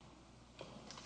Robert Winter Robert Winter Robert Winter Robert Winter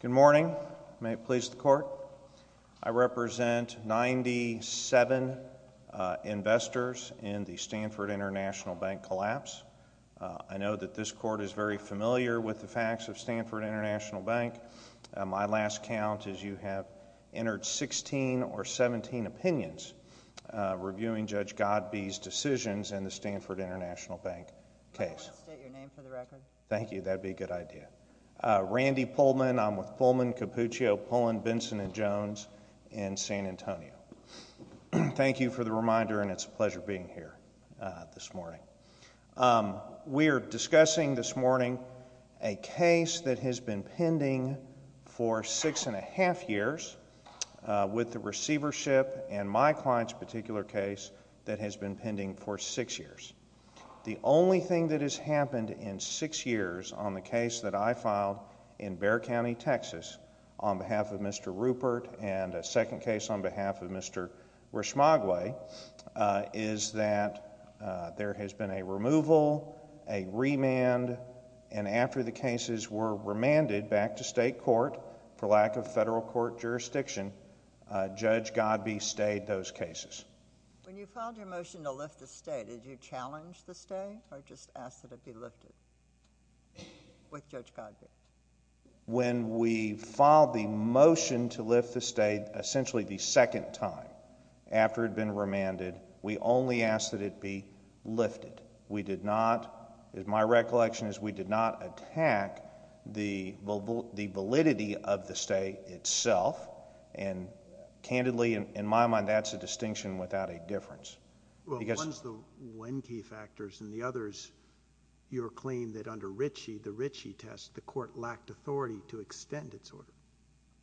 Good morning. May it please the Court? I represent 97 investors in the Stanford International Bank collapse. I know that this Court is very familiar with the facts of Stanford International Bank. My last count is you have entered 16 or 17 opinions reviewing Judge Godbee's decisions in the Stanford International Bank case. I would like to state your name for the record. Thank you. That would be a good idea. Randy Pullman. I'm with Pullman, Cappuccio, Pullen, Benson & Jones in San Antonio. Thank you for the reminder, and it's a pleasure being here this morning. We are discussing this morning a case that has been pending for six and a half years with the receivership and my client's particular case that has been pending for six years. The only thing that has happened in six years on the case that I filed in Bexar County, Texas on behalf of Mr. Rupert and a second case on behalf of Mr. Reshmogway is that there has been a removal, a remand, and after the cases were remanded back to state court for lack of federal court jurisdiction, Judge Godbee stayed those cases. When you filed your motion to lift the stay, did you challenge the stay or just ask that it be lifted with Judge Godbee? When we filed the motion to lift the stay, essentially the second time after it had been remanded, we only asked that it be lifted. We did not, my recollection is we did not attack the validity of the stay itself, and candidly, in my mind, that's a distinction without a difference. Well, one's the when key factors and the other's your claim that under Ritchie, the Ritchie test, the court lacked authority to extend its order.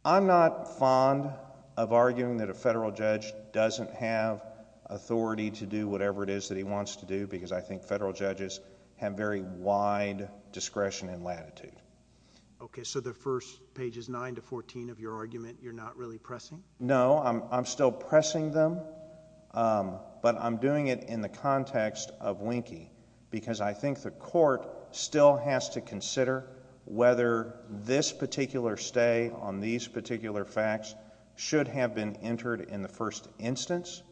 I'm not fond of arguing that a federal judge doesn't have authority to do whatever it is that he wants to do because I think federal judges have very wide discretion and latitude. Okay, so the first pages 9 to 14 of your argument, you're not really pressing? No, I'm still pressing them, but I'm doing it in the context of Winkie because I think the court still has to consider whether this particular stay on these particular facts should have been entered in the first instance.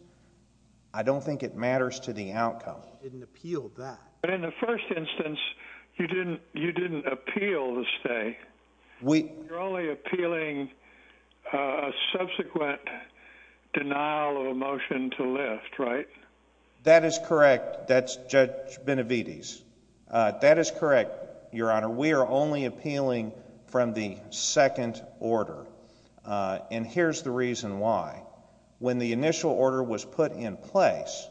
I don't think it matters to the outcome. You didn't appeal that. But in the first instance, you didn't appeal the stay. You're only appealing a subsequent denial of a motion to lift, right? That is correct. That's Judge Benavides. That is correct, Your Honor. We are only appealing from the second order, and here's the reason why. When the initial order was put in place,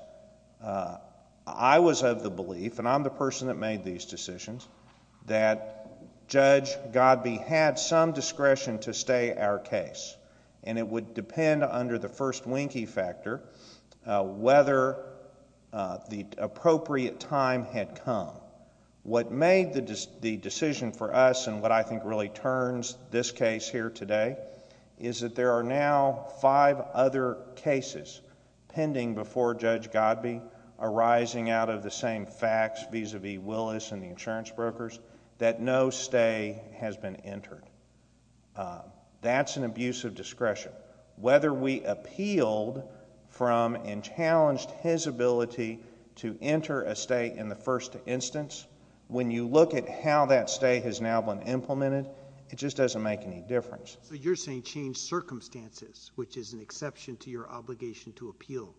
I was of the belief, and I'm the person that made these decisions, that Judge Godbee had some discretion to stay our case, and it would depend under the first Winkie factor whether the appropriate time had come. What made the decision for us and what I think really turns this case here today is that there are now five other cases pending before Judge Godbee arising out of the same facts vis-à-vis Willis and the insurance brokers that no stay has been entered. That's an abuse of discretion. Whether we appealed from and challenged his ability to enter a stay in the first instance, when you look at how that stay has now been implemented, it just doesn't make any difference. So you're saying change circumstances, which is an exception to your obligation to appeal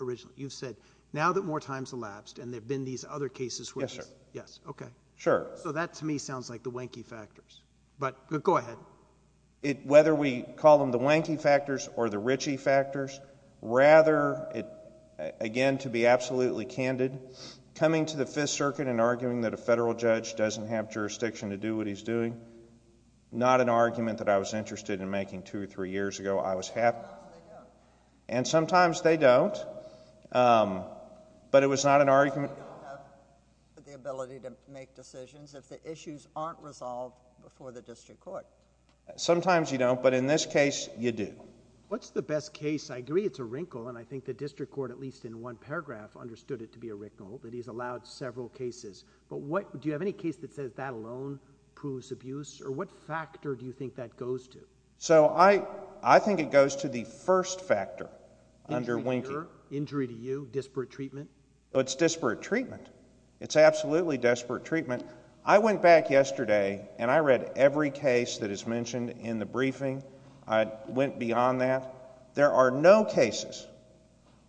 originally. You've said now that more time has elapsed and there have been these other cases. Yes, sir. Yes, okay. Sure. So that to me sounds like the Winkie factors, but go ahead. Whether we call them the Winkie factors or the Ritchie factors, rather, again, to be absolutely candid, coming to the Fifth Circuit and arguing that a federal judge doesn't have jurisdiction to do what he's doing, not an argument that I was interested in making two or three years ago. I was happy. Sometimes they don't. And sometimes they don't, but it was not an argument. They don't have the ability to make decisions if the issues aren't resolved before the district court. Sometimes you don't, but in this case, you do. What's the best case? I agree it's a wrinkle, and I think the district court, at least in one paragraph, understood it to be a wrinkle, that he's allowed several cases. But do you have any case that says that alone proves abuse, or what factor do you think that goes to? So I think it goes to the first factor under Winkie. Injury to you, disparate treatment? It's disparate treatment. It's absolutely disparate treatment. I went back yesterday, and I read every case that is mentioned in the briefing. I went beyond that. There are no cases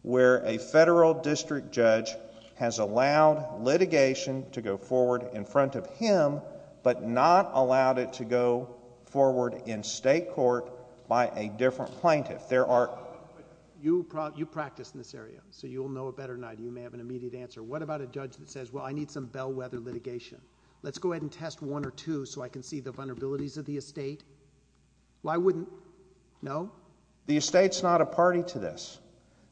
where a federal district judge has allowed litigation to go forward in front of him, but not allowed it to go forward in state court by a different plaintiff. You practice in this area, so you'll know it better than I do. You may have an immediate answer. What about a judge that says, well, I need some bellwether litigation. Let's go ahead and test one or two so I can see the vulnerabilities of the estate. Why wouldn't? No. The estate's not a party to this.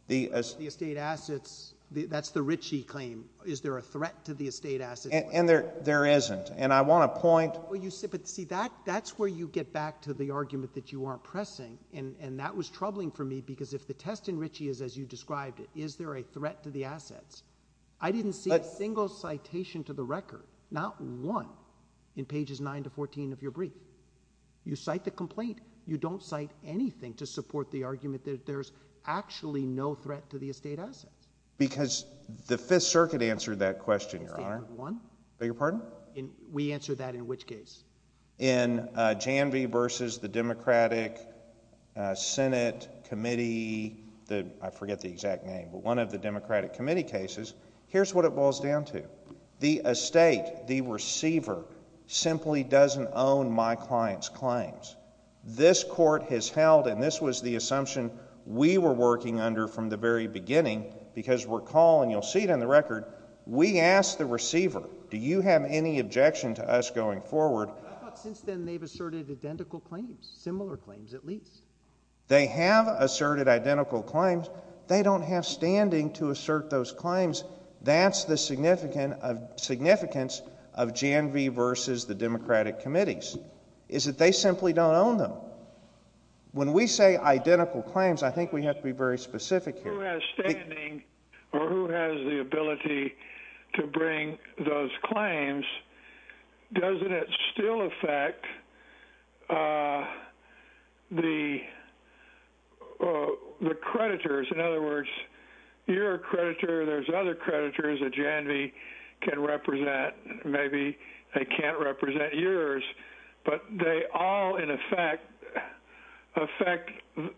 The estate assets, that's the Ritchie claim. Is there a threat to the estate assets? And there isn't. And I want to point— But see, that's where you get back to the argument that you aren't pressing, and that was troubling for me because if the test in Ritchie is as you described it, is there a threat to the assets? I didn't see a single citation to the record, not one, in pages 9 to 14 of your brief. You cite the complaint. You don't cite anything to support the argument that there's actually no threat to the estate assets. Because the Fifth Circuit answered that question, Your Honor. We answered that in which case? In Janvey v. the Democratic Senate Committee, I forget the exact name, but one of the Democratic Committee cases, here's what it boils down to. The estate, the receiver, simply doesn't own my client's claims. This court has held, and this was the assumption we were working under from the very beginning because recall, and you'll see it in the record, we asked the receiver, do you have any objection to us going forward? But I thought since then they've asserted identical claims, similar claims at least. They have asserted identical claims. They don't have standing to assert those claims. That's the significance of Janvey v. the Democratic Committees is that they simply don't own them. When we say identical claims, I think we have to be very specific here. Who has standing or who has the ability to bring those claims? Doesn't it still affect the creditors? In other words, you're a creditor. There's other creditors that Janvey can represent. Maybe they can't represent yours. But they all, in effect, affect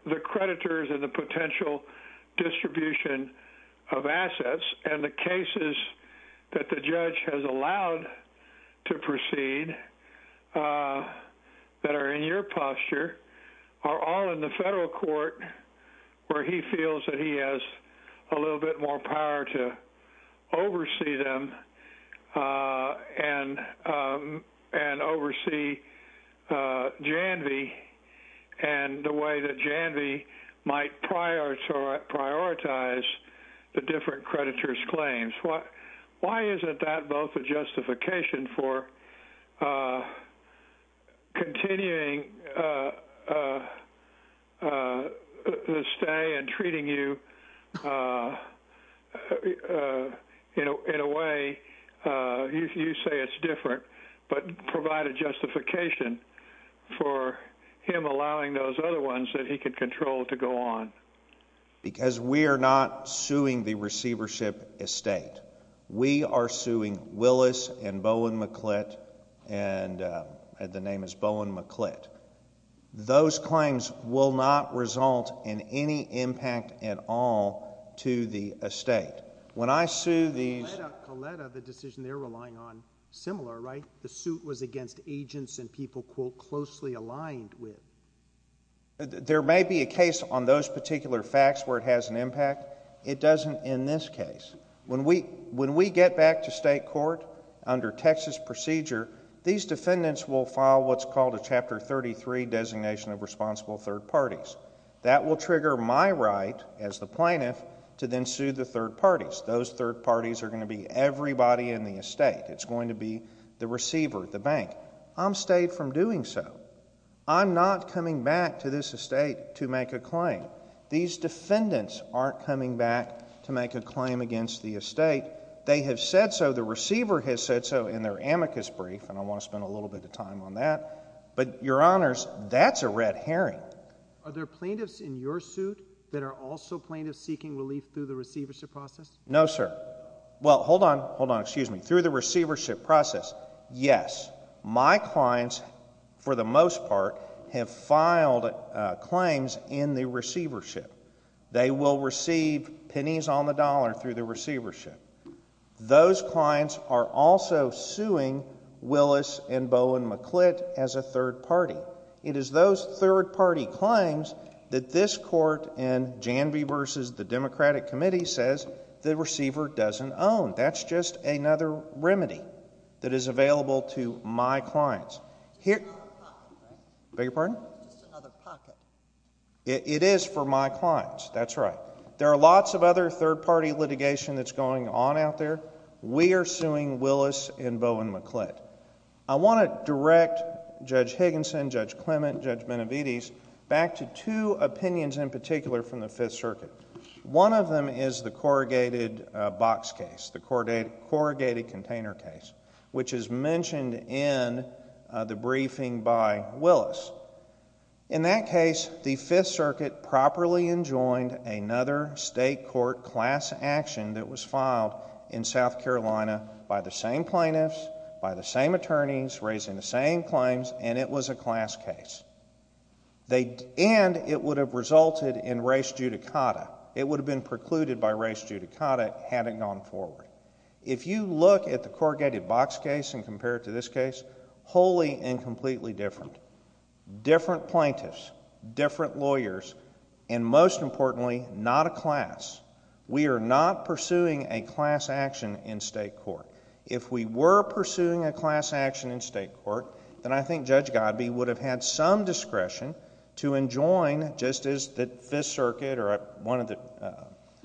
the creditors and the potential distribution of assets. And the cases that the judge has allowed to proceed that are in your posture are all in the federal court where he feels that he has a little bit more power to oversee them and oversee Janvey and the way that Janvey might prioritize the different creditors' claims. Why isn't that both a justification for continuing to stay and treating you in a way you say it's different but provide a justification for him allowing those other ones that he could control to go on? Because we are not suing the receivership estate. We are suing Willis and Bowen McClitt, and the name is Bowen McClitt. Those claims will not result in any impact at all to the estate. When I sue these— Coletta, the decision they're relying on, similar, right? The suit was against agents and people, quote, closely aligned with. There may be a case on those particular facts where it has an impact. It doesn't in this case. When we get back to state court under Texas procedure, these defendants will file what's called a Chapter 33 designation of responsible third parties. That will trigger my right as the plaintiff to then sue the third parties. Those third parties are going to be everybody in the estate. It's going to be the receiver, the bank. I'm stayed from doing so. I'm not coming back to this estate to make a claim. These defendants aren't coming back to make a claim against the estate. They have said so. The receiver has said so in their amicus brief, and I want to spend a little bit of time on that. But, Your Honors, that's a red herring. Are there plaintiffs in your suit that are also plaintiffs seeking relief through the receivership process? No, sir. Well, hold on. Hold on. Excuse me. Through the receivership process, yes. My clients, for the most part, have filed claims in the receivership. They will receive pennies on the dollar through the receivership. Those clients are also suing Willis and Bowen McClitt as a third party. It is those third party claims that this court in Janvey v. the Democratic Committee says the receiver doesn't own. That's just another remedy that is available to my clients. It's just another pocket, right? Beg your pardon? It's just another pocket. It is for my clients. That's right. There are lots of other third party litigation that's going on out there. We are suing Willis and Bowen McClitt. I want to direct Judge Higginson, Judge Clement, Judge Benavides back to two opinions in particular from the Fifth Circuit. One of them is the corrugated box case, the corrugated container case, which is mentioned in the briefing by Willis. In that case, the Fifth Circuit properly enjoined another state court class action that was filed in South Carolina by the same plaintiffs, by the same attorneys, raising the same claims, and it was a class case. And it would have resulted in res judicata. It would have been precluded by res judicata had it gone forward. If you look at the corrugated box case and compare it to this case, wholly and completely different. Different plaintiffs, different lawyers, and most importantly, not a class. We are not pursuing a class action in state court. If we were pursuing a class action in state court, then I think Judge Godbee would have had some discretion to enjoin just as the Fifth Circuit or one of the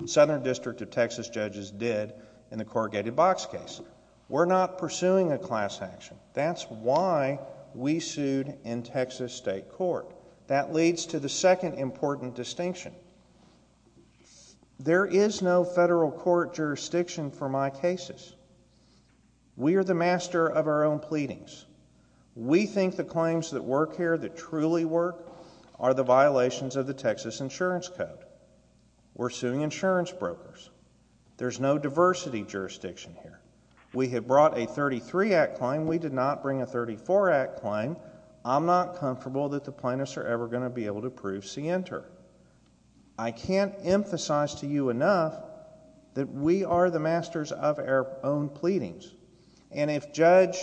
Southern District of Texas judges did in the corrugated box case. We're not pursuing a class action. That's why we sued in Texas state court. That leads to the second important distinction. There is no federal court jurisdiction for my cases. We are the master of our own pleadings. We think the claims that work here, that truly work, are the violations of the Texas Insurance Code. We're suing insurance brokers. There's no diversity jurisdiction here. We have brought a 33 Act claim. We did not bring a 34 Act claim. I'm not comfortable that the plaintiffs are ever going to be able to prove scienter. I can't emphasize to you enough that we are the masters of our own pleadings. And if Judge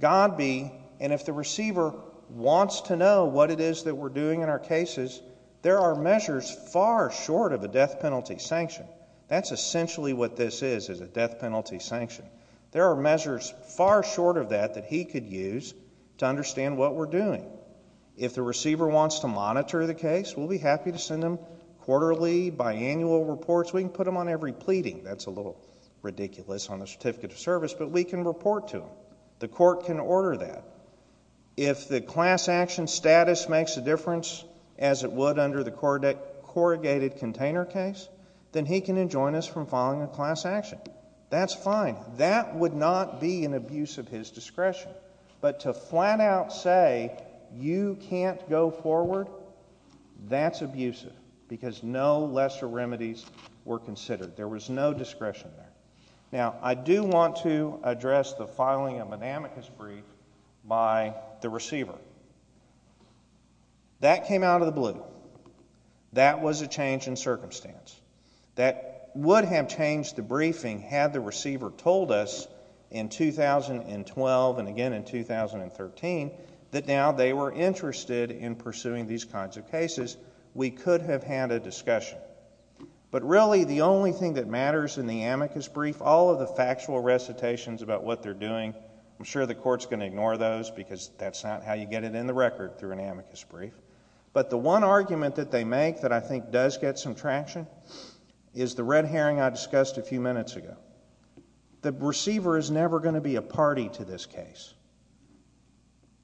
Godbee and if the receiver wants to know what it is that we're doing in our cases, there are measures far short of a death penalty sanction. That's essentially what this is, is a death penalty sanction. There are measures far short of that that he could use to understand what we're doing. If the receiver wants to monitor the case, we'll be happy to send him quarterly, biannual reports. We can put him on every pleading. That's a little ridiculous on the certificate of service, but we can report to him. The court can order that. If the class action status makes a difference, as it would under the corrugated container case, then he can enjoin us from filing a class action. That's fine. That would not be an abuse of his discretion. But to flat out say you can't go forward, that's abusive because no lesser remedies were considered. There was no discretion there. Now, I do want to address the filing of an amicus brief by the receiver. That came out of the blue. That was a change in circumstance. That would have changed the briefing had the receiver told us in 2012 and again in 2013 that now they were interested in pursuing these kinds of cases. We could have had a discussion. But really the only thing that matters in the amicus brief, all of the factual recitations about what they're doing, I'm sure the court's going to ignore those because that's not how you get it in the record through an amicus brief. But the one argument that they make that I think does get some traction is the red herring I discussed a few minutes ago. The receiver is never going to be a party to this case.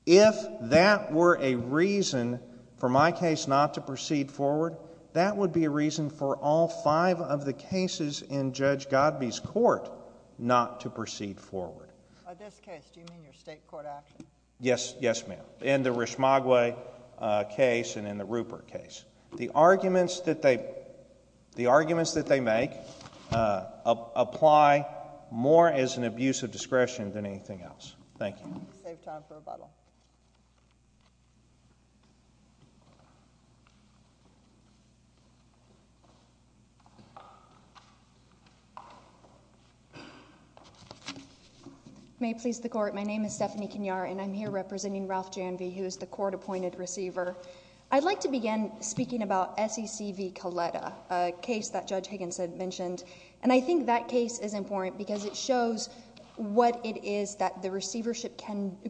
If that were a reason for my case not to proceed forward, that would be a reason for all five of the cases in Judge Godbee's court not to proceed forward. In this case, do you mean your state court action? Yes, ma'am. In the Rishmagway case and in the Rupert case. The arguments that they make apply more as an abuse of discretion than anything else. Thank you. Save time for rebuttal. May it please the court. My name is Stephanie Kenyar, and I'm here representing Ralph Janvey, who is the court-appointed receiver. I'd like to begin speaking about SEC v. Coletta, a case that Judge Higginson mentioned. And I think that case is important because it shows what it is that the receivership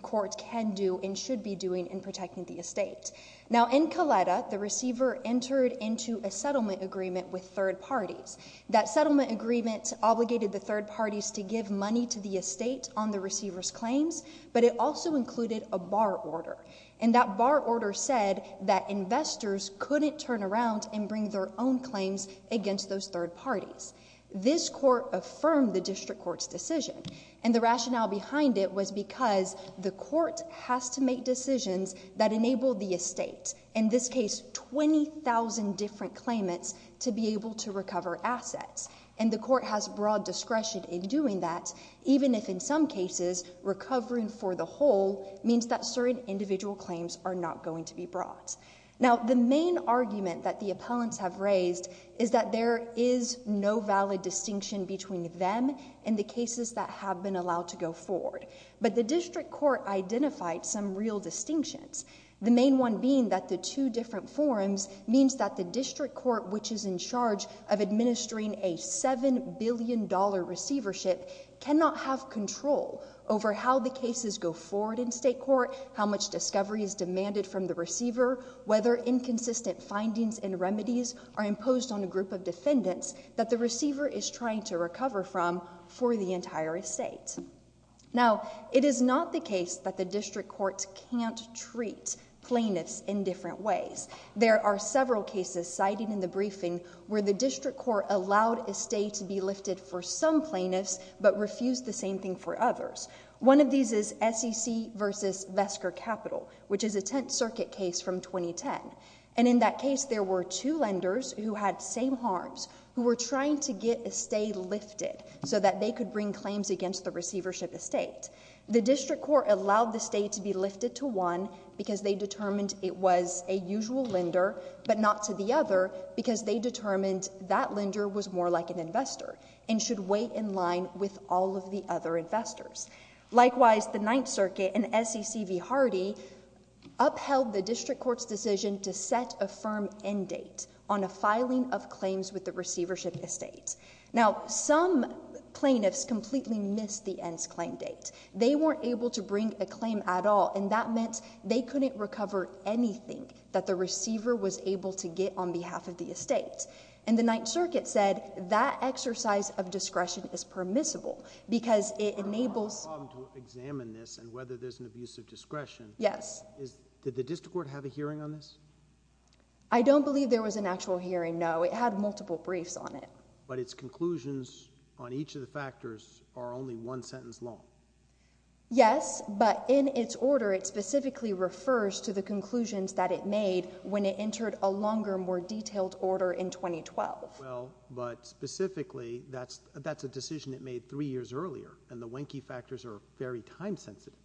court can do and should be doing in protecting the estate. Now, in Coletta, the receiver entered into a settlement agreement with third parties. That settlement agreement obligated the third parties to give money to the estate on the receiver's claims, but it also included a bar order. And that bar order said that investors couldn't turn around and bring their own claims against those third parties. This court affirmed the district court's decision. And the rationale behind it was because the court has to make decisions that enable the estate, in this case 20,000 different claimants, to be able to recover assets. And the court has broad discretion in doing that, even if in some cases recovering for the whole means that certain individual claims are not going to be brought. Now, the main argument that the appellants have raised is that there is no valid distinction between them and the cases that have been allowed to go forward. But the district court identified some real distinctions, the main one being that the two different forms means that the district court, which is in charge of administering a $7 billion receivership, cannot have control over how the cases go forward in state court, how much discovery is demanded from the receiver, whether inconsistent findings and remedies are imposed on a group of defendants that the receiver is trying to recover from for the entire estate. Now, it is not the case that the district court can't treat plaintiffs in different ways. There are several cases cited in the briefing where the district court allowed estate to be lifted for some plaintiffs but refused the same thing for others. One of these is SEC v. Vesker Capital, which is a Tenth Circuit case from 2010. And in that case, there were two lenders who had same harms who were trying to get estate lifted so that they could bring claims against the receivership estate. The district court allowed the estate to be lifted to one because they determined it was a usual lender but not to the other because they determined that lender was more like an investor and should wait in line with all of the other investors. Likewise, the Ninth Circuit and SEC v. Hardy upheld the district court's decision to set a firm end date on a filing of claims with the receivership estate. Now, some plaintiffs completely missed the end's claim date. They weren't able to bring a claim at all, and that meant they couldn't recover anything that the receiver was able to get on behalf of the estate. And the Ninth Circuit said that exercise of discretion is permissible because it enables… …to examine this and whether there's an abuse of discretion. Yes. Did the district court have a hearing on this? I don't believe there was an actual hearing, no. It had multiple briefs on it. But its conclusions on each of the factors are only one sentence long. Yes, but in its order, it specifically refers to the conclusions that it made when it entered a longer, more detailed order in 2012. Well, but specifically, that's a decision it made three years earlier, and the winky factors are very time-sensitive.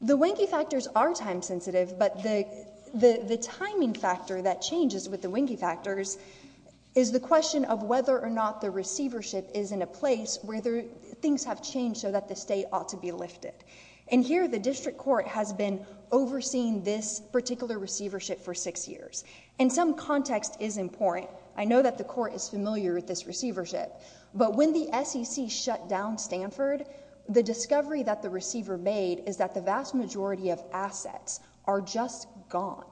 The winky factors are time-sensitive, but the timing factor that changes with the winky factors is the question of whether or not the receivership is in a place where things have changed so that the estate ought to be lifted. And here, the district court has been overseeing this particular receivership for six years, and some context is important. I know that the court is familiar with this receivership, but when the SEC shut down Stanford, the discovery that the receiver made is that the vast majority of assets are just gone.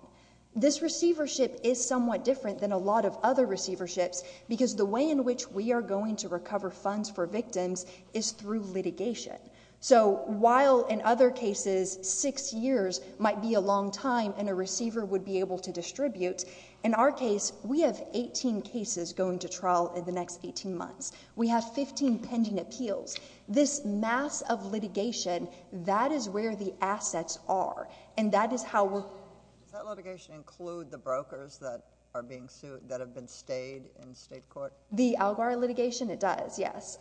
This receivership is somewhat different than a lot of other receiverships because the way in which we are going to recover funds for victims is through litigation. So while in other cases, six years might be a long time and a receiver would be able to distribute, in our case, we have 18 cases going to trial in the next 18 months. We have 15 pending appeals. This mass of litigation, that is where the assets are, and that is how we're... Does that litigation include the brokers that are being sued, that have been stayed in state court? The ALGAR litigation, it does, yes.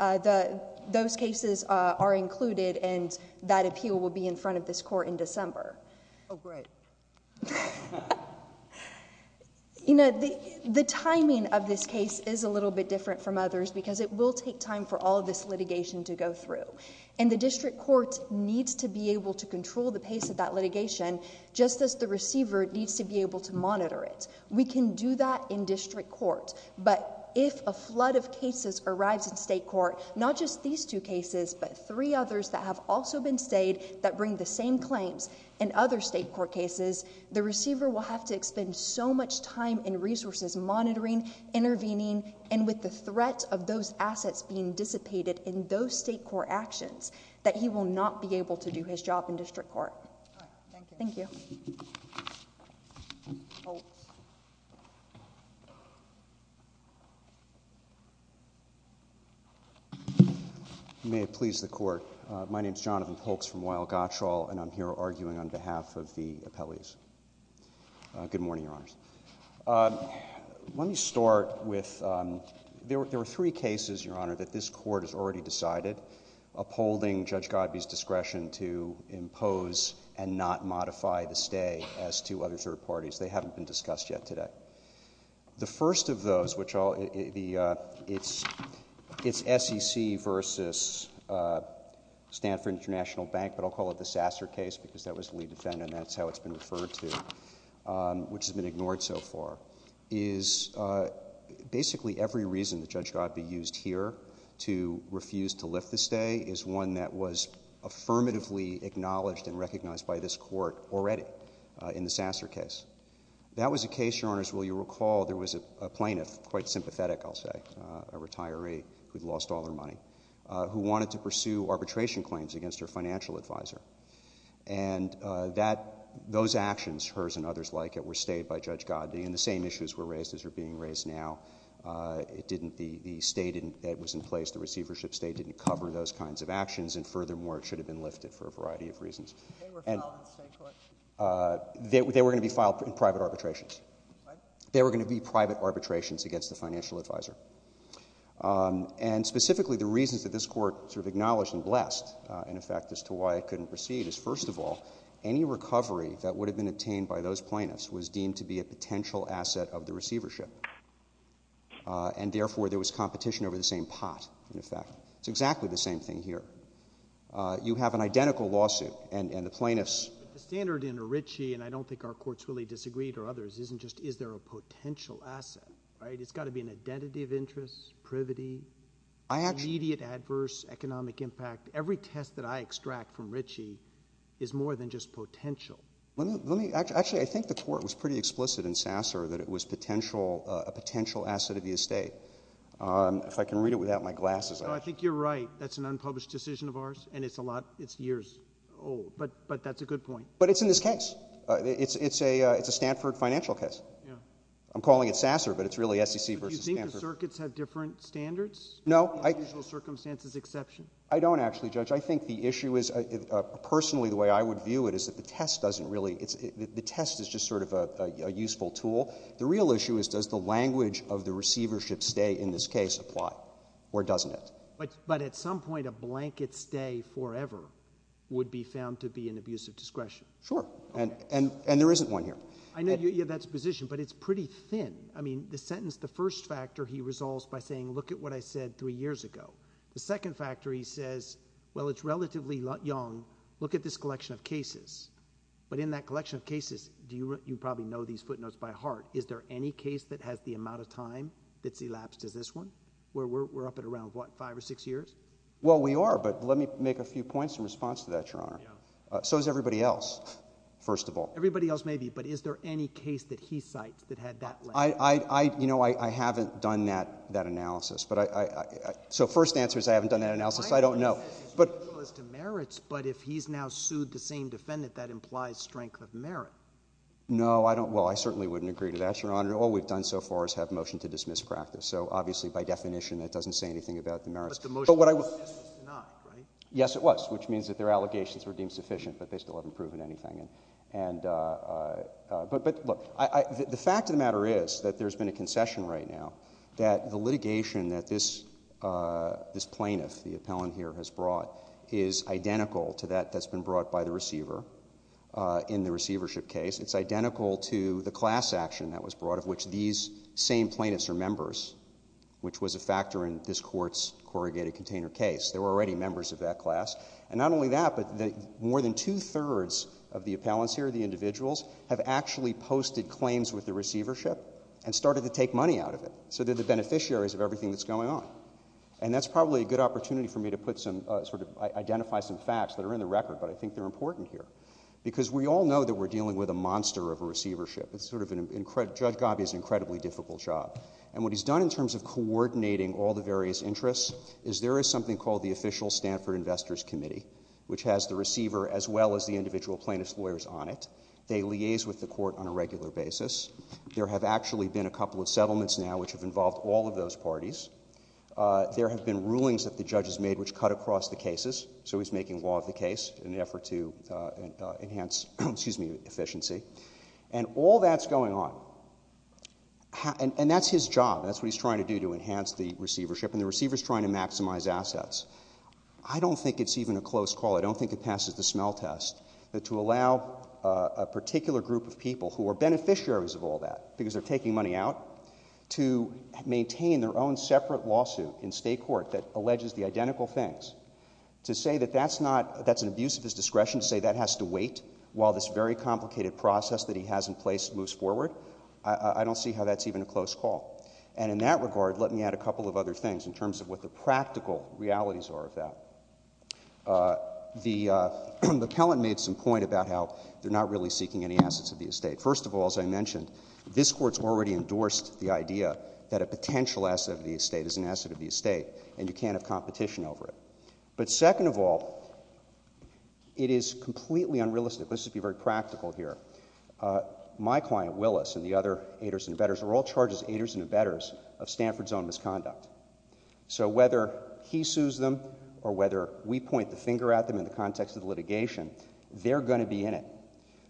Those cases are included, and that appeal will be in front of this court in December. Oh, great. You know, the timing of this case is a little bit different from others because it will take time for all of this litigation to go through. And the district court needs to be able to control the pace of that litigation, just as the receiver needs to be able to monitor it. We can do that in district court, but if a flood of cases arrives in state court, not just these two cases, but three others that have also been stayed that bring the same claims in other state court cases, the receiver will have to expend so much time and resources monitoring, intervening, and with the threat of those assets being dissipated in those state court actions, that he will not be able to do his job in district court. Thank you. You may have pleased the court. My name is Jonathan Polks from Weill-Gottschall, and I'm here arguing on behalf of the appellees. Good morning, Your Honors. Let me start with there were three cases, Your Honor, that this court has already decided upholding Judge Godby's discretion to impose and not modify the stay as to other third parties. They haven't been discussed yet today. The first of those, which it's SEC versus Stanford International Bank, but I'll call it the Sasser case because that was the lead defendant, and that's how it's been referred to, which has been ignored so far, is basically every reason that Judge Godby used here to refuse to lift the stay is one that was affirmatively acknowledged and recognized by this court already in the Sasser case. That was a case, Your Honors, will you recall there was a plaintiff, quite sympathetic, I'll say, a retiree who'd lost all her money, who wanted to pursue arbitration claims against her financial advisor. And that, those actions, hers and others like it, were stayed by Judge Godby, and the same issues were raised as are being raised now. It didn't, the stay didn't, it was in place, the receivership stay didn't cover those kinds of actions, and furthermore, it should have been lifted for a variety of reasons. They were filed in the same court? They were going to be filed in private arbitrations. Pardon? They were going to be private arbitrations against the financial advisor. And specifically, the reasons that this court sort of acknowledged and blessed, in effect, as to why it couldn't proceed is, first of all, any recovery that would have been obtained by those plaintiffs was deemed to be a potential asset of the receivership. And therefore, there was competition over the same pot, in effect. It's exactly the same thing here. You have an identical lawsuit, and the plaintiffs. The standard in a Ritchie, and I don't think our courts really disagreed or others, isn't just is there a potential asset, right? It's got to be an identity of interest, privity, immediate adverse economic impact. Every test that I extract from Ritchie is more than just potential. Let me, actually, I think the court was pretty explicit in Sasser that it was potential, a potential asset of the estate. If I can read it without my glasses on. I think you're right. That's an unpublished decision of ours, and it's a lot, it's years old. But that's a good point. But it's in this case. It's a Stanford financial case. I'm calling it Sasser, but it's really SEC versus Stanford. Do you think the circuits have different standards? No. Unusual circumstances exception? I don't, actually, Judge. I think the issue is, personally, the way I would view it is that the test doesn't really, the test is just sort of a useful tool. The real issue is does the language of the receivership stay in this case apply, or doesn't it? But at some point, a blanket stay forever would be found to be an abuse of discretion. Sure. And there isn't one here. I know you have that position, but it's pretty thin. I mean, the sentence, the first factor he resolves by saying, look at what I said three years ago. The second factor he says, well, it's relatively young. Look at this collection of cases. But in that collection of cases, you probably know these footnotes by heart. Is there any case that has the amount of time that's elapsed as this one? We're up at around, what, five or six years? Well, we are, but let me make a few points in response to that, Your Honor. So is everybody else, first of all. Everybody else may be, but is there any case that he cites that had that length? You know, I haven't done that analysis. So first answer is I haven't done that analysis. I don't know. But if he's now sued the same defendant, that implies strength of merit. No, I don't. Well, I certainly wouldn't agree to that, Your Honor. All we've done so far is have motion to dismiss practice. So obviously, by definition, that doesn't say anything about the merits. But the motion was dismissed tonight, right? Yes, it was, which means that their allegations were deemed sufficient, but they still haven't proven anything. But look, the fact of the matter is that there's been a concession right now that the litigation that this plaintiff, the appellant here, has brought is identical to that that's been brought by the receiver in the receivership case. It's identical to the class action that was brought, out of which these same plaintiffs are members, which was a factor in this Court's corrugated container case. They were already members of that class. And not only that, but more than two-thirds of the appellants here, the individuals, have actually posted claims with the receivership and started to take money out of it. So they're the beneficiaries of everything that's going on. And that's probably a good opportunity for me to identify some facts that are in the record, but I think they're important here. Because we all know that we're dealing with a monster of a receivership. Judge Gabbi has an incredibly difficult job. And what he's done in terms of coordinating all the various interests is there is something called the Official Stanford Investors Committee, which has the receiver as well as the individual plaintiff's lawyers on it. They liaise with the Court on a regular basis. There have actually been a couple of settlements now which have involved all of those parties. There have been rulings that the judges made which cut across the cases. So he's making law of the case in an effort to enhance efficiency. And all that's going on. And that's his job. That's what he's trying to do to enhance the receivership. And the receiver's trying to maximize assets. I don't think it's even a close call. I don't think it passes the smell test to allow a particular group of people who are beneficiaries of all that because they're taking money out to maintain their own separate lawsuit in state court that alleges the identical things, to say that that's an abuse of his discretion, to say that has to wait while this very complicated process that he has in place moves forward. I don't see how that's even a close call. And in that regard, let me add a couple of other things in terms of what the practical realities are of that. The appellant made some point about how they're not really seeking any assets of the estate. First of all, as I mentioned, this Court's already endorsed the idea that a potential asset of the estate is an asset of the estate and you can't have competition over it. But second of all, it is completely unrealistic. Let's just be very practical here. My client, Willis, and the other aiders and abettors are all charged as aiders and abettors of Stanford's own misconduct. So whether he sues them or whether we point the finger at them in the context of the litigation, they're going to be in it.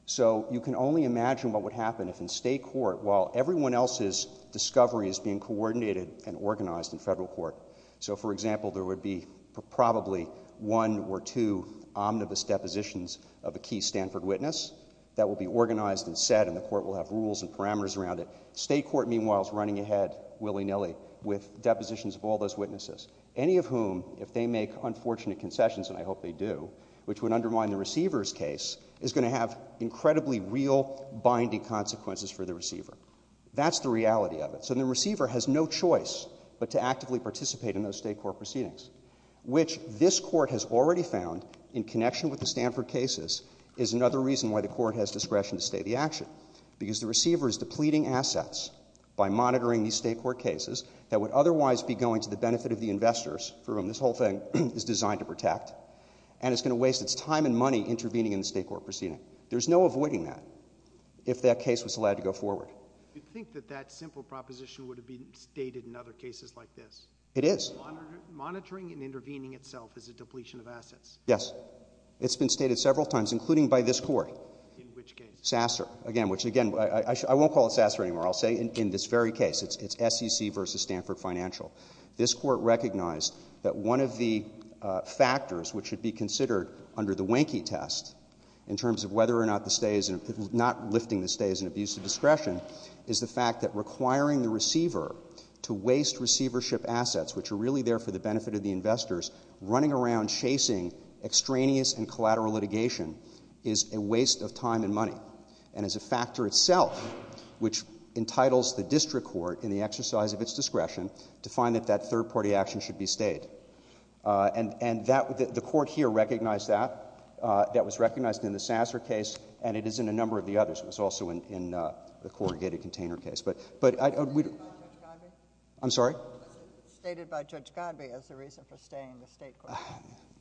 So you can only imagine what would happen if in state court, while everyone else's discovery is being coordinated and organized in federal court... So, for example, there would be probably one or two omnibus depositions of a key Stanford witness that will be organized and set and the Court will have rules and parameters around it. State court, meanwhile, is running ahead willy-nilly with depositions of all those witnesses, any of whom, if they make unfortunate concessions, and I hope they do, which would undermine the receiver's case, is going to have incredibly real binding consequences for the receiver. That's the reality of it. So the receiver has no choice but to actively participate in those state court proceedings, which this Court has already found, in connection with the Stanford cases, is another reason why the Court has discretion to stay the action, because the receiver is depleting assets by monitoring these state court cases that would otherwise be going to the benefit of the investors for whom this whole thing is designed to protect, and it's going to waste its time and money intervening in the state court proceeding. There's no avoiding that if that case was allowed to go forward. You'd think that that simple proposition would have been stated in other cases like this. It is. Monitoring and intervening itself is a depletion of assets. Yes. It's been stated several times, including by this Court. In which case? Sasser. Again, which, again, I won't call it Sasser anymore. I'll say in this very case. It's SEC versus Stanford Financial. This Court recognized that one of the factors which should be considered under the wanky test in terms of whether or not the stay is... is the fact that requiring the receiver to waste receivership assets, which are really there for the benefit of the investors, running around chasing extraneous and collateral litigation is a waste of time and money, and is a factor itself which entitles the district court, in the exercise of its discretion, to find that that third-party action should be stayed. And the Court here recognized that. That was recognized in the Sasser case, and it is in a number of the others. It's also in the corrugated container case. But... I'm sorry? It's stated by Judge Godby as the reason for staying the state court.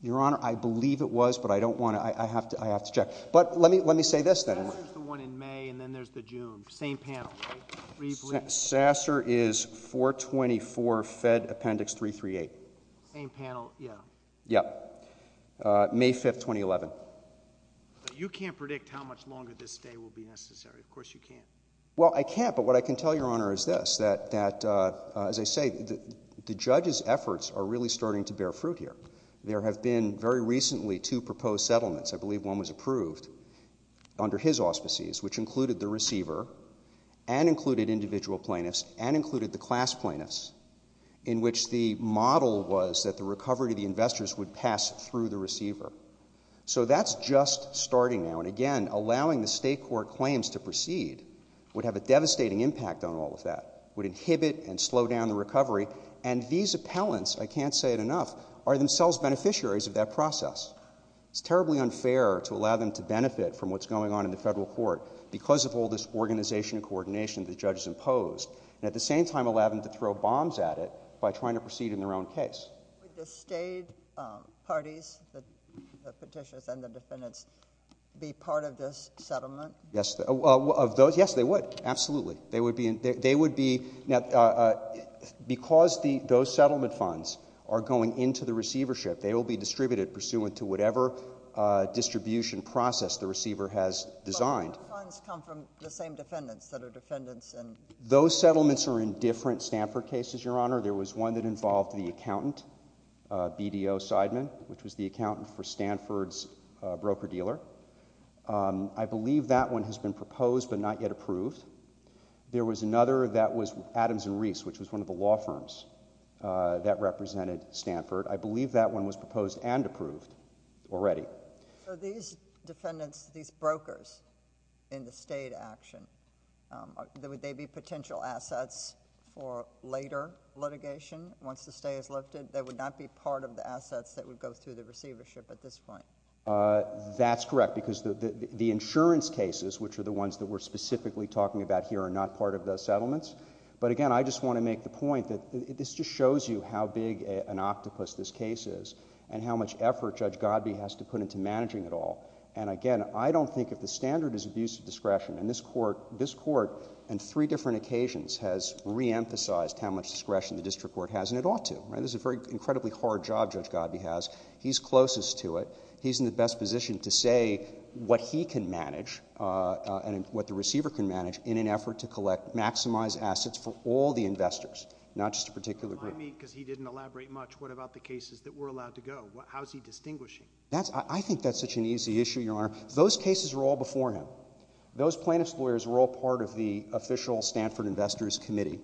Your Honor, I believe it was, but I don't want to... I have to check. But let me say this, then. Sasser's the one in May, and then there's the June. Same panel. Sasser is 424, Fed Appendix 338. Same panel, yeah. Yeah. May 5, 2011. But you can't predict how much longer this stay will be necessary. Of course you can't. Well, I can't, but what I can tell Your Honor is this, that, as I say, the judge's efforts are really starting to bear fruit here. There have been, very recently, two proposed settlements. I believe one was approved under his auspices, which included the receiver and included individual plaintiffs in which the model was that the recovery to the investors would pass through the receiver. So that's just starting now. And again, allowing the state court claims to proceed would have a devastating impact on all of that, would inhibit and slow down the recovery. And these appellants, I can't say it enough, are themselves beneficiaries of that process. It's terribly unfair to allow them to benefit from what's going on in the federal court because of all this organization and coordination the judge has imposed, and at the same time allow them to throw bombs at it by trying to proceed in their own case. Would the state parties, the petitioners and the defendants, be part of this settlement? Yes, of those, yes, they would. Absolutely. They would be, because those settlement funds are going into the receivership, they will be distributed pursuant to whatever distribution process the receiver has designed. But what funds come from the same defendants that are defendants in... Those settlements are in different Stanford cases, Your Honor. There was one that involved the accountant, BDO Seidman, which was the accountant for Stanford's broker-dealer. I believe that one has been proposed but not yet approved. There was another that was Adams & Reese, which was one of the law firms that represented Stanford. I believe that one was proposed and approved already. So these defendants, these brokers in the state action, would they be potential assets for later litigation, once the stay is lifted, that would not be part of the assets that would go through the receivership at this point? That's correct, because the insurance cases, which are the ones that we're specifically talking about here, are not part of the settlements. But again, I just want to make the point that this just shows you how big an octopus this case is and how much effort Judge Godbee has to put into managing it all. And again, I don't think if the standard is abuse of discretion, and this court, this court on three different occasions has reemphasized how much discretion the district court has, and it ought to. This is an incredibly hard job Judge Godbee has. He's closest to it. He's in the best position to say what he can manage and what the receiver can manage in an effort to maximize assets for all the investors, not just a particular group. Remind me, because he didn't elaborate much, what about the cases that were allowed to go? How is he distinguishing? I think that's such an easy issue, Your Honor. Those cases were all before him. Those plaintiff's lawyers were all part of the official Stanford Investors Committee.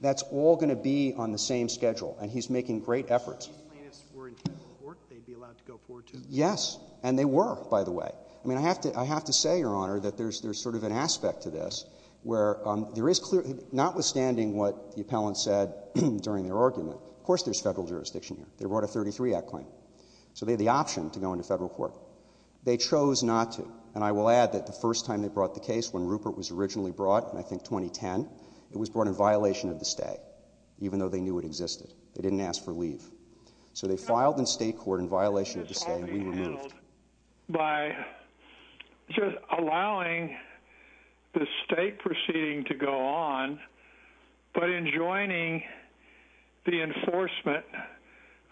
That's all going to be on the same schedule, and he's making great efforts. If these plaintiffs were in federal court, they'd be allowed to go forward, too? Yes, and they were, by the way. I mean, I have to say, Your Honor, that there's sort of an aspect to this where there is clear... Notwithstanding what the appellant said during their argument, of course there's federal jurisdiction here. They brought a 33-act claim, so they had the option to go into federal court. They chose not to, and I will add that the first time they brought the case, when Rupert was originally brought, I think 2010, it was brought in violation of the stay, even though they knew it existed. They didn't ask for leave. So they filed in state court in violation of the stay, and we were moved. By just allowing the state proceeding to go on, but enjoining the enforcement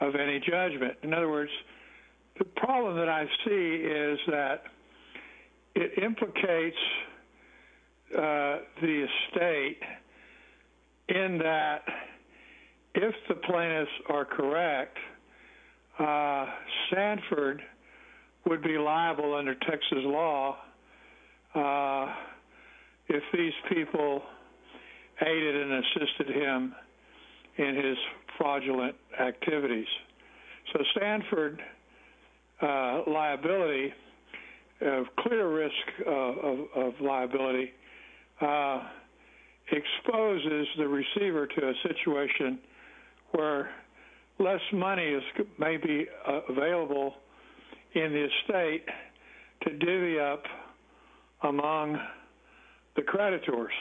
of any judgment. In other words, the problem that I see is that it implicates the state in that if the plaintiffs are correct, Sanford would be liable under Texas law if these people aided and assisted him in his fraudulent activities. So Sanford liability, clear risk of liability, exposes the receiver to a situation where less money may be available in the estate to divvy up among the creditors.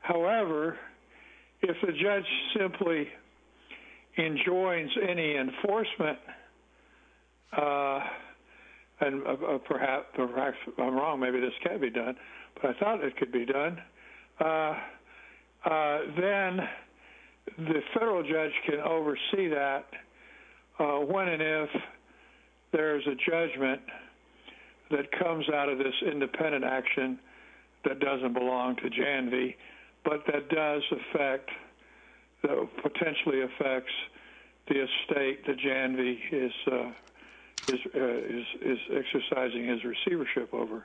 However, if a judge simply enjoins any enforcement, and perhaps I'm wrong, maybe this can't be done, but I thought it could be done, then the federal judge can oversee that when and if there's a judgment that comes out of this independent action that doesn't belong to Janvey, but that potentially affects the estate that Janvey is exercising his receivership over.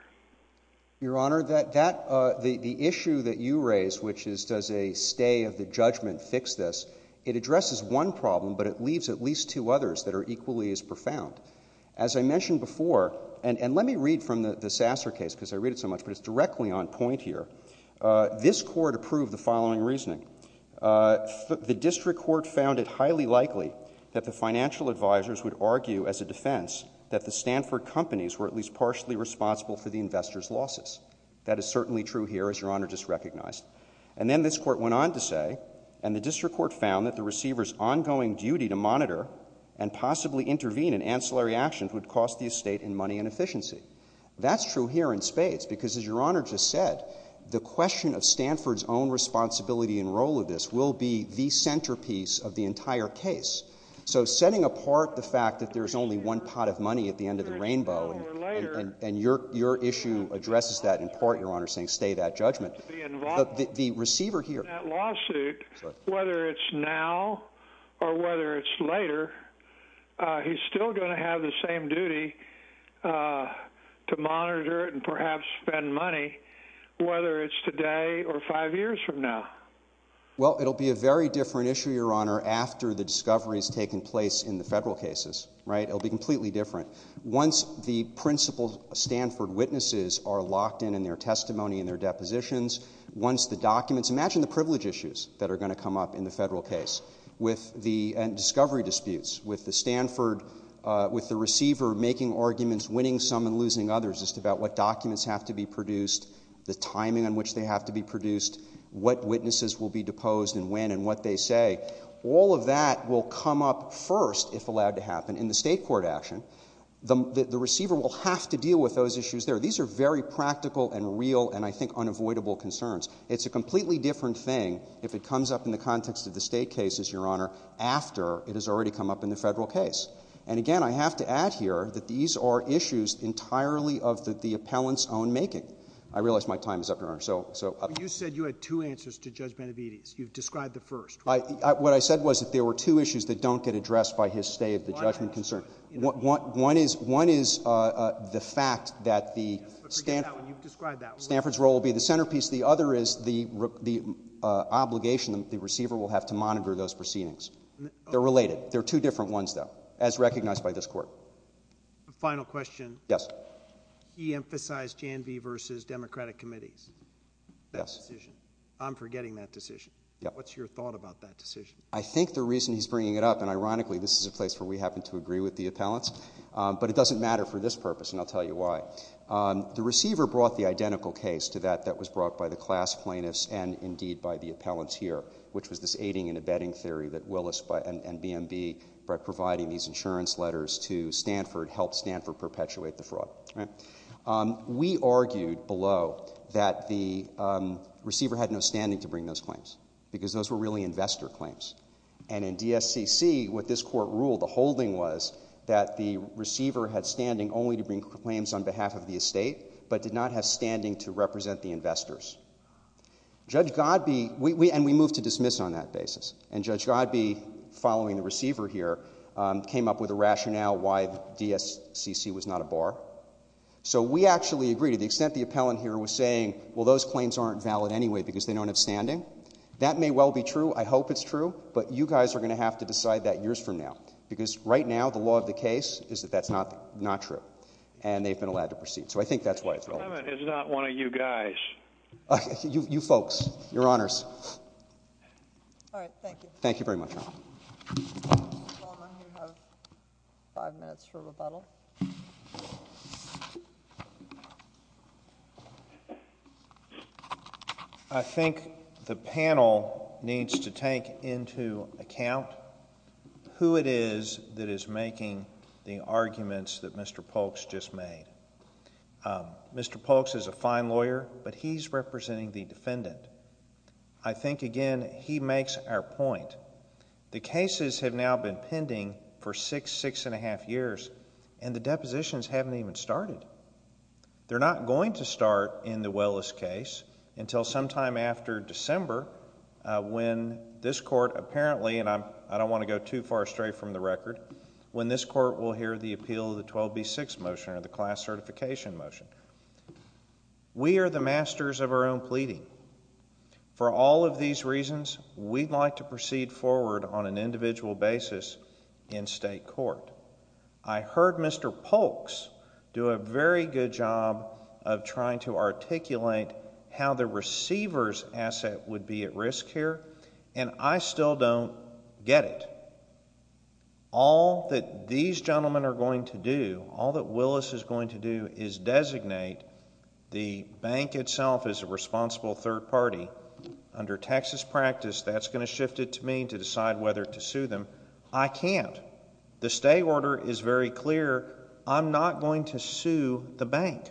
Your Honor, the issue that you raise, which is does a stay of the judgment fix this, it addresses one problem, but it leaves at least two others that are equally as profound. As I mentioned before, and let me read from the Sasser case, because I read it so much, but it's directly on point here. This court approved the following reasoning. The district court found it highly likely that the financial advisors would argue as a defense that the Stanford companies were at least partially responsible for the investors' losses. That is certainly true here, as Your Honor just recognized. And then this court went on to say, and the district court found that the receiver's ongoing duty to monitor and possibly intervene in ancillary actions would cost the estate in money and efficiency. That's true here in spades, because as Your Honor just said, the question of Stanford's own responsibility and role of this will be the centerpiece of the entire case. So setting apart the fact that there's only one pot of money at the end of the rainbow, and your issue addresses that in part, Your Honor, saying stay that judgment. The receiver here... ...in that lawsuit, whether it's now or whether it's later, he's still going to have the same duty to monitor it and perhaps spend money, whether it's today or five years from now. Well, it'll be a very different issue, Your Honor, after the discoveries taking place in the federal cases, right? It'll be completely different. Once the principal Stanford witnesses are locked in in their testimony and their depositions, once the documents... Imagine the privilege issues that are going to come up in the federal case with the discovery disputes, with the Stanford... winning arguments, winning some and losing others just about what documents have to be produced, the timing on which they have to be produced, what witnesses will be deposed and when and what they say. All of that will come up first, if allowed to happen, in the state court action. The receiver will have to deal with those issues there. These are very practical and real and, I think, unavoidable concerns. It's a completely different thing if it comes up in the context of the state cases, Your Honor, after it has already come up in the federal case. And again, I have to add here that these are issues entirely of the appellant's own making. I realize my time is up, Your Honor, so... But you said you had two answers to Judge Benavides. You've described the first. What I said was that there were two issues that don't get addressed by his stay of the judgment concern. One is the fact that the Stanford... But forget that one. You've described that one. Stanford's role will be the centerpiece. The other is the obligation that the receiver will have to monitor those proceedings. They're related. They're two different ones, though, as recognized by this Court. Final question. Yes. He emphasized Janvey versus Democratic committees. Yes. I'm forgetting that decision. What's your thought about that decision? I think the reason he's bringing it up, and ironically, this is a place where we happen to agree with the appellants, but it doesn't matter for this purpose, and I'll tell you why. The receiver brought the identical case to that that was brought by the class plaintiffs and, indeed, by the appellants here, which was this aiding and abetting theory that Willis and BMB by providing these insurance letters to Stanford helped Stanford perpetuate the fraud. We argued below that the receiver had no standing to bring those claims because those were really investor claims, and in DSCC, what this Court ruled, the holding was that the receiver had standing only to bring claims on behalf of the estate but did not have standing to represent the investors. Judge Godbee... And we moved to dismiss on that basis, and Judge Godbee, following the receiver, came up with a rationale why DSCC was not a bar. So we actually agree to the extent the appellant here was saying, well, those claims aren't valid anyway because they don't have standing. That may well be true. I hope it's true, but you guys are going to have to decide that years from now because, right now, the law of the case is that that's not true, and they've been allowed to proceed. So I think that's why it's valid. Clement is not one of you guys. You folks. Your Honors. All right. Thank you. Thank you very much, Your Honor. Mr. Palmer, you have 5 minutes for rebuttal. I think the panel needs to take into account who it is that is making the arguments that Mr. Polk's just made. Mr. Polk's is a fine lawyer, but he's representing the defendant. I think, again, he makes our point. The cases have now been pending for 6, 6 1⁄2 years, and the depositions haven't even started. They're not going to start in the Willis case until sometime after December when this Court apparently, and I don't want to go too far astray from the record, when this Court will hear the appeal of the 12B6 motion or the class certification motion. We are the masters of our own pleading. For all of these reasons, we'd like to proceed forward on an individual basis in state court. I heard Mr. Polk's do a very good job of trying to articulate how the receiver's asset would be at risk here, and I still don't get it. All that these gentlemen are going to do, all that Willis is going to do, is designate the bank itself as a responsible third party. Under Texas practice, that's going to shift it to me to decide whether to sue them. I can't. The stay order is very clear. I'm not going to sue the bank.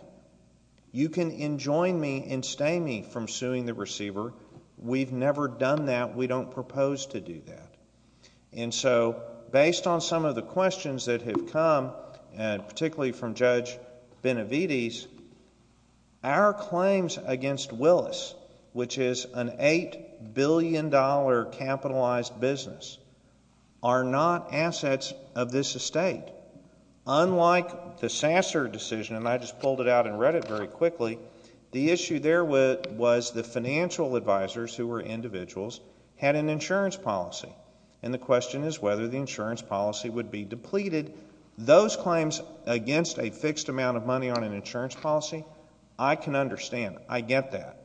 You can enjoin me and stay me from suing the receiver. We don't propose to do that. And so, based on some of the questions that have come, particularly from Judge Benavides, our claims against Willis, which is an $8 billion capitalized business, are not assets of this estate. Unlike the Sasser decision, and I just pulled it out and read it very quickly, the issue there was the financial advisors, who were individuals, had an insurance policy. And the question is whether the insurance policy would be depleted. Those claims against a fixed amount of money on an insurance policy, I can understand. I get that.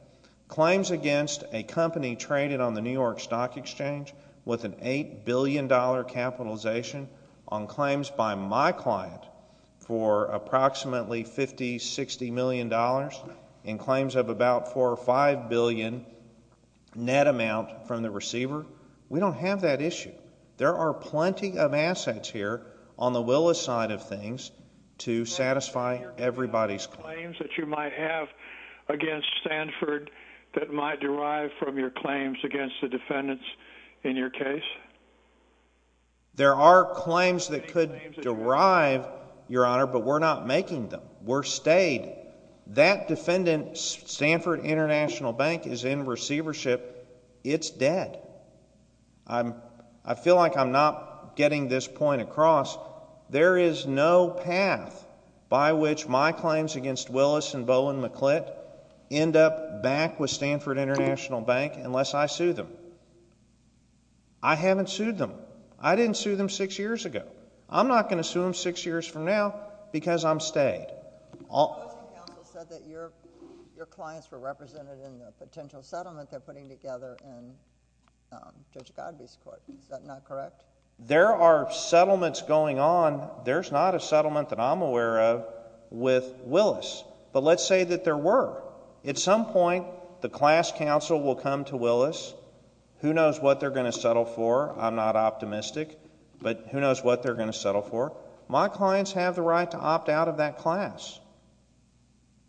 Claims against a company traded on the New York Stock Exchange with an $8 billion capitalization on claims by my client for approximately $50, $60 million in claims of about $4 or $5 billion net amount from the receiver, we don't have that issue. There are plenty of assets here on the Willis side of things to satisfy everybody's claims. ...claims that you might have against Stanford that might derive from your claims against the defendants in your case? There are claims that could derive, Your Honor, but we're not making them. We're stayed. That defendant, Stanford International Bank, is in receivership. It's dead. I feel like I'm not getting this point across. There is no path by which my claims against Willis and Bowen McClitt end up back with Stanford International Bank unless I sue them. I haven't sued them. I didn't sue them six years ago. I'm not going to sue them six years from now because I'm stayed. The opposing counsel said that your clients were represented in the potential settlement they're putting together in Judge Godbee's court. Is that not correct? There are settlements going on. There's not a settlement that I'm aware of with Willis, but let's say that there were. At some point, the class counsel will come to Willis. Who knows what they're going to settle for? I'm not optimistic, but who knows what they're going to settle for? My clients have the right to opt out of that class.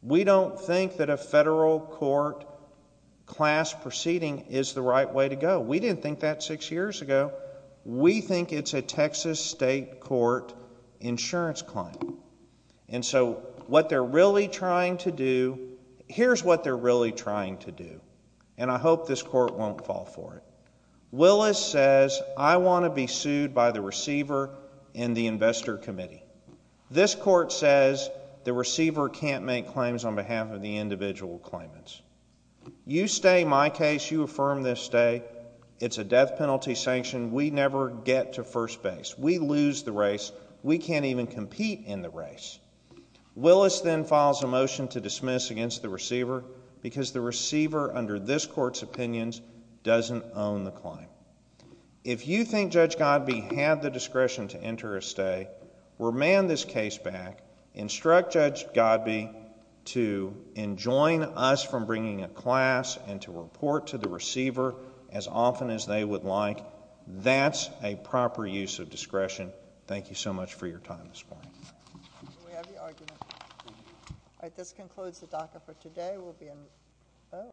We don't think that a federal court class proceeding is the right way to go. We didn't think that six years ago. We think it's a Texas state court insurance claim. And so what they're really trying to do, here's what they're really trying to do, and I hope this court won't fall for it. Willis says, I want to be sued by the receiver and the investor committee. This court says the receiver can't make claims on behalf of the individual claimants. You stay my case. You affirm this stay. It's a death penalty sanction. We never get to first base. We lose the race. We can't even compete in the race. Willis then files a motion to dismiss against the receiver because the receiver, under this court's opinions, doesn't own the claim. If you think Judge Godbee had the discretion to enter a stay, remand this case back. Instruct Judge Godbee to enjoin us from bringing a class and to report to the receiver as often as they would like. That's a proper use of discretion. Thank you so much for your time this morning.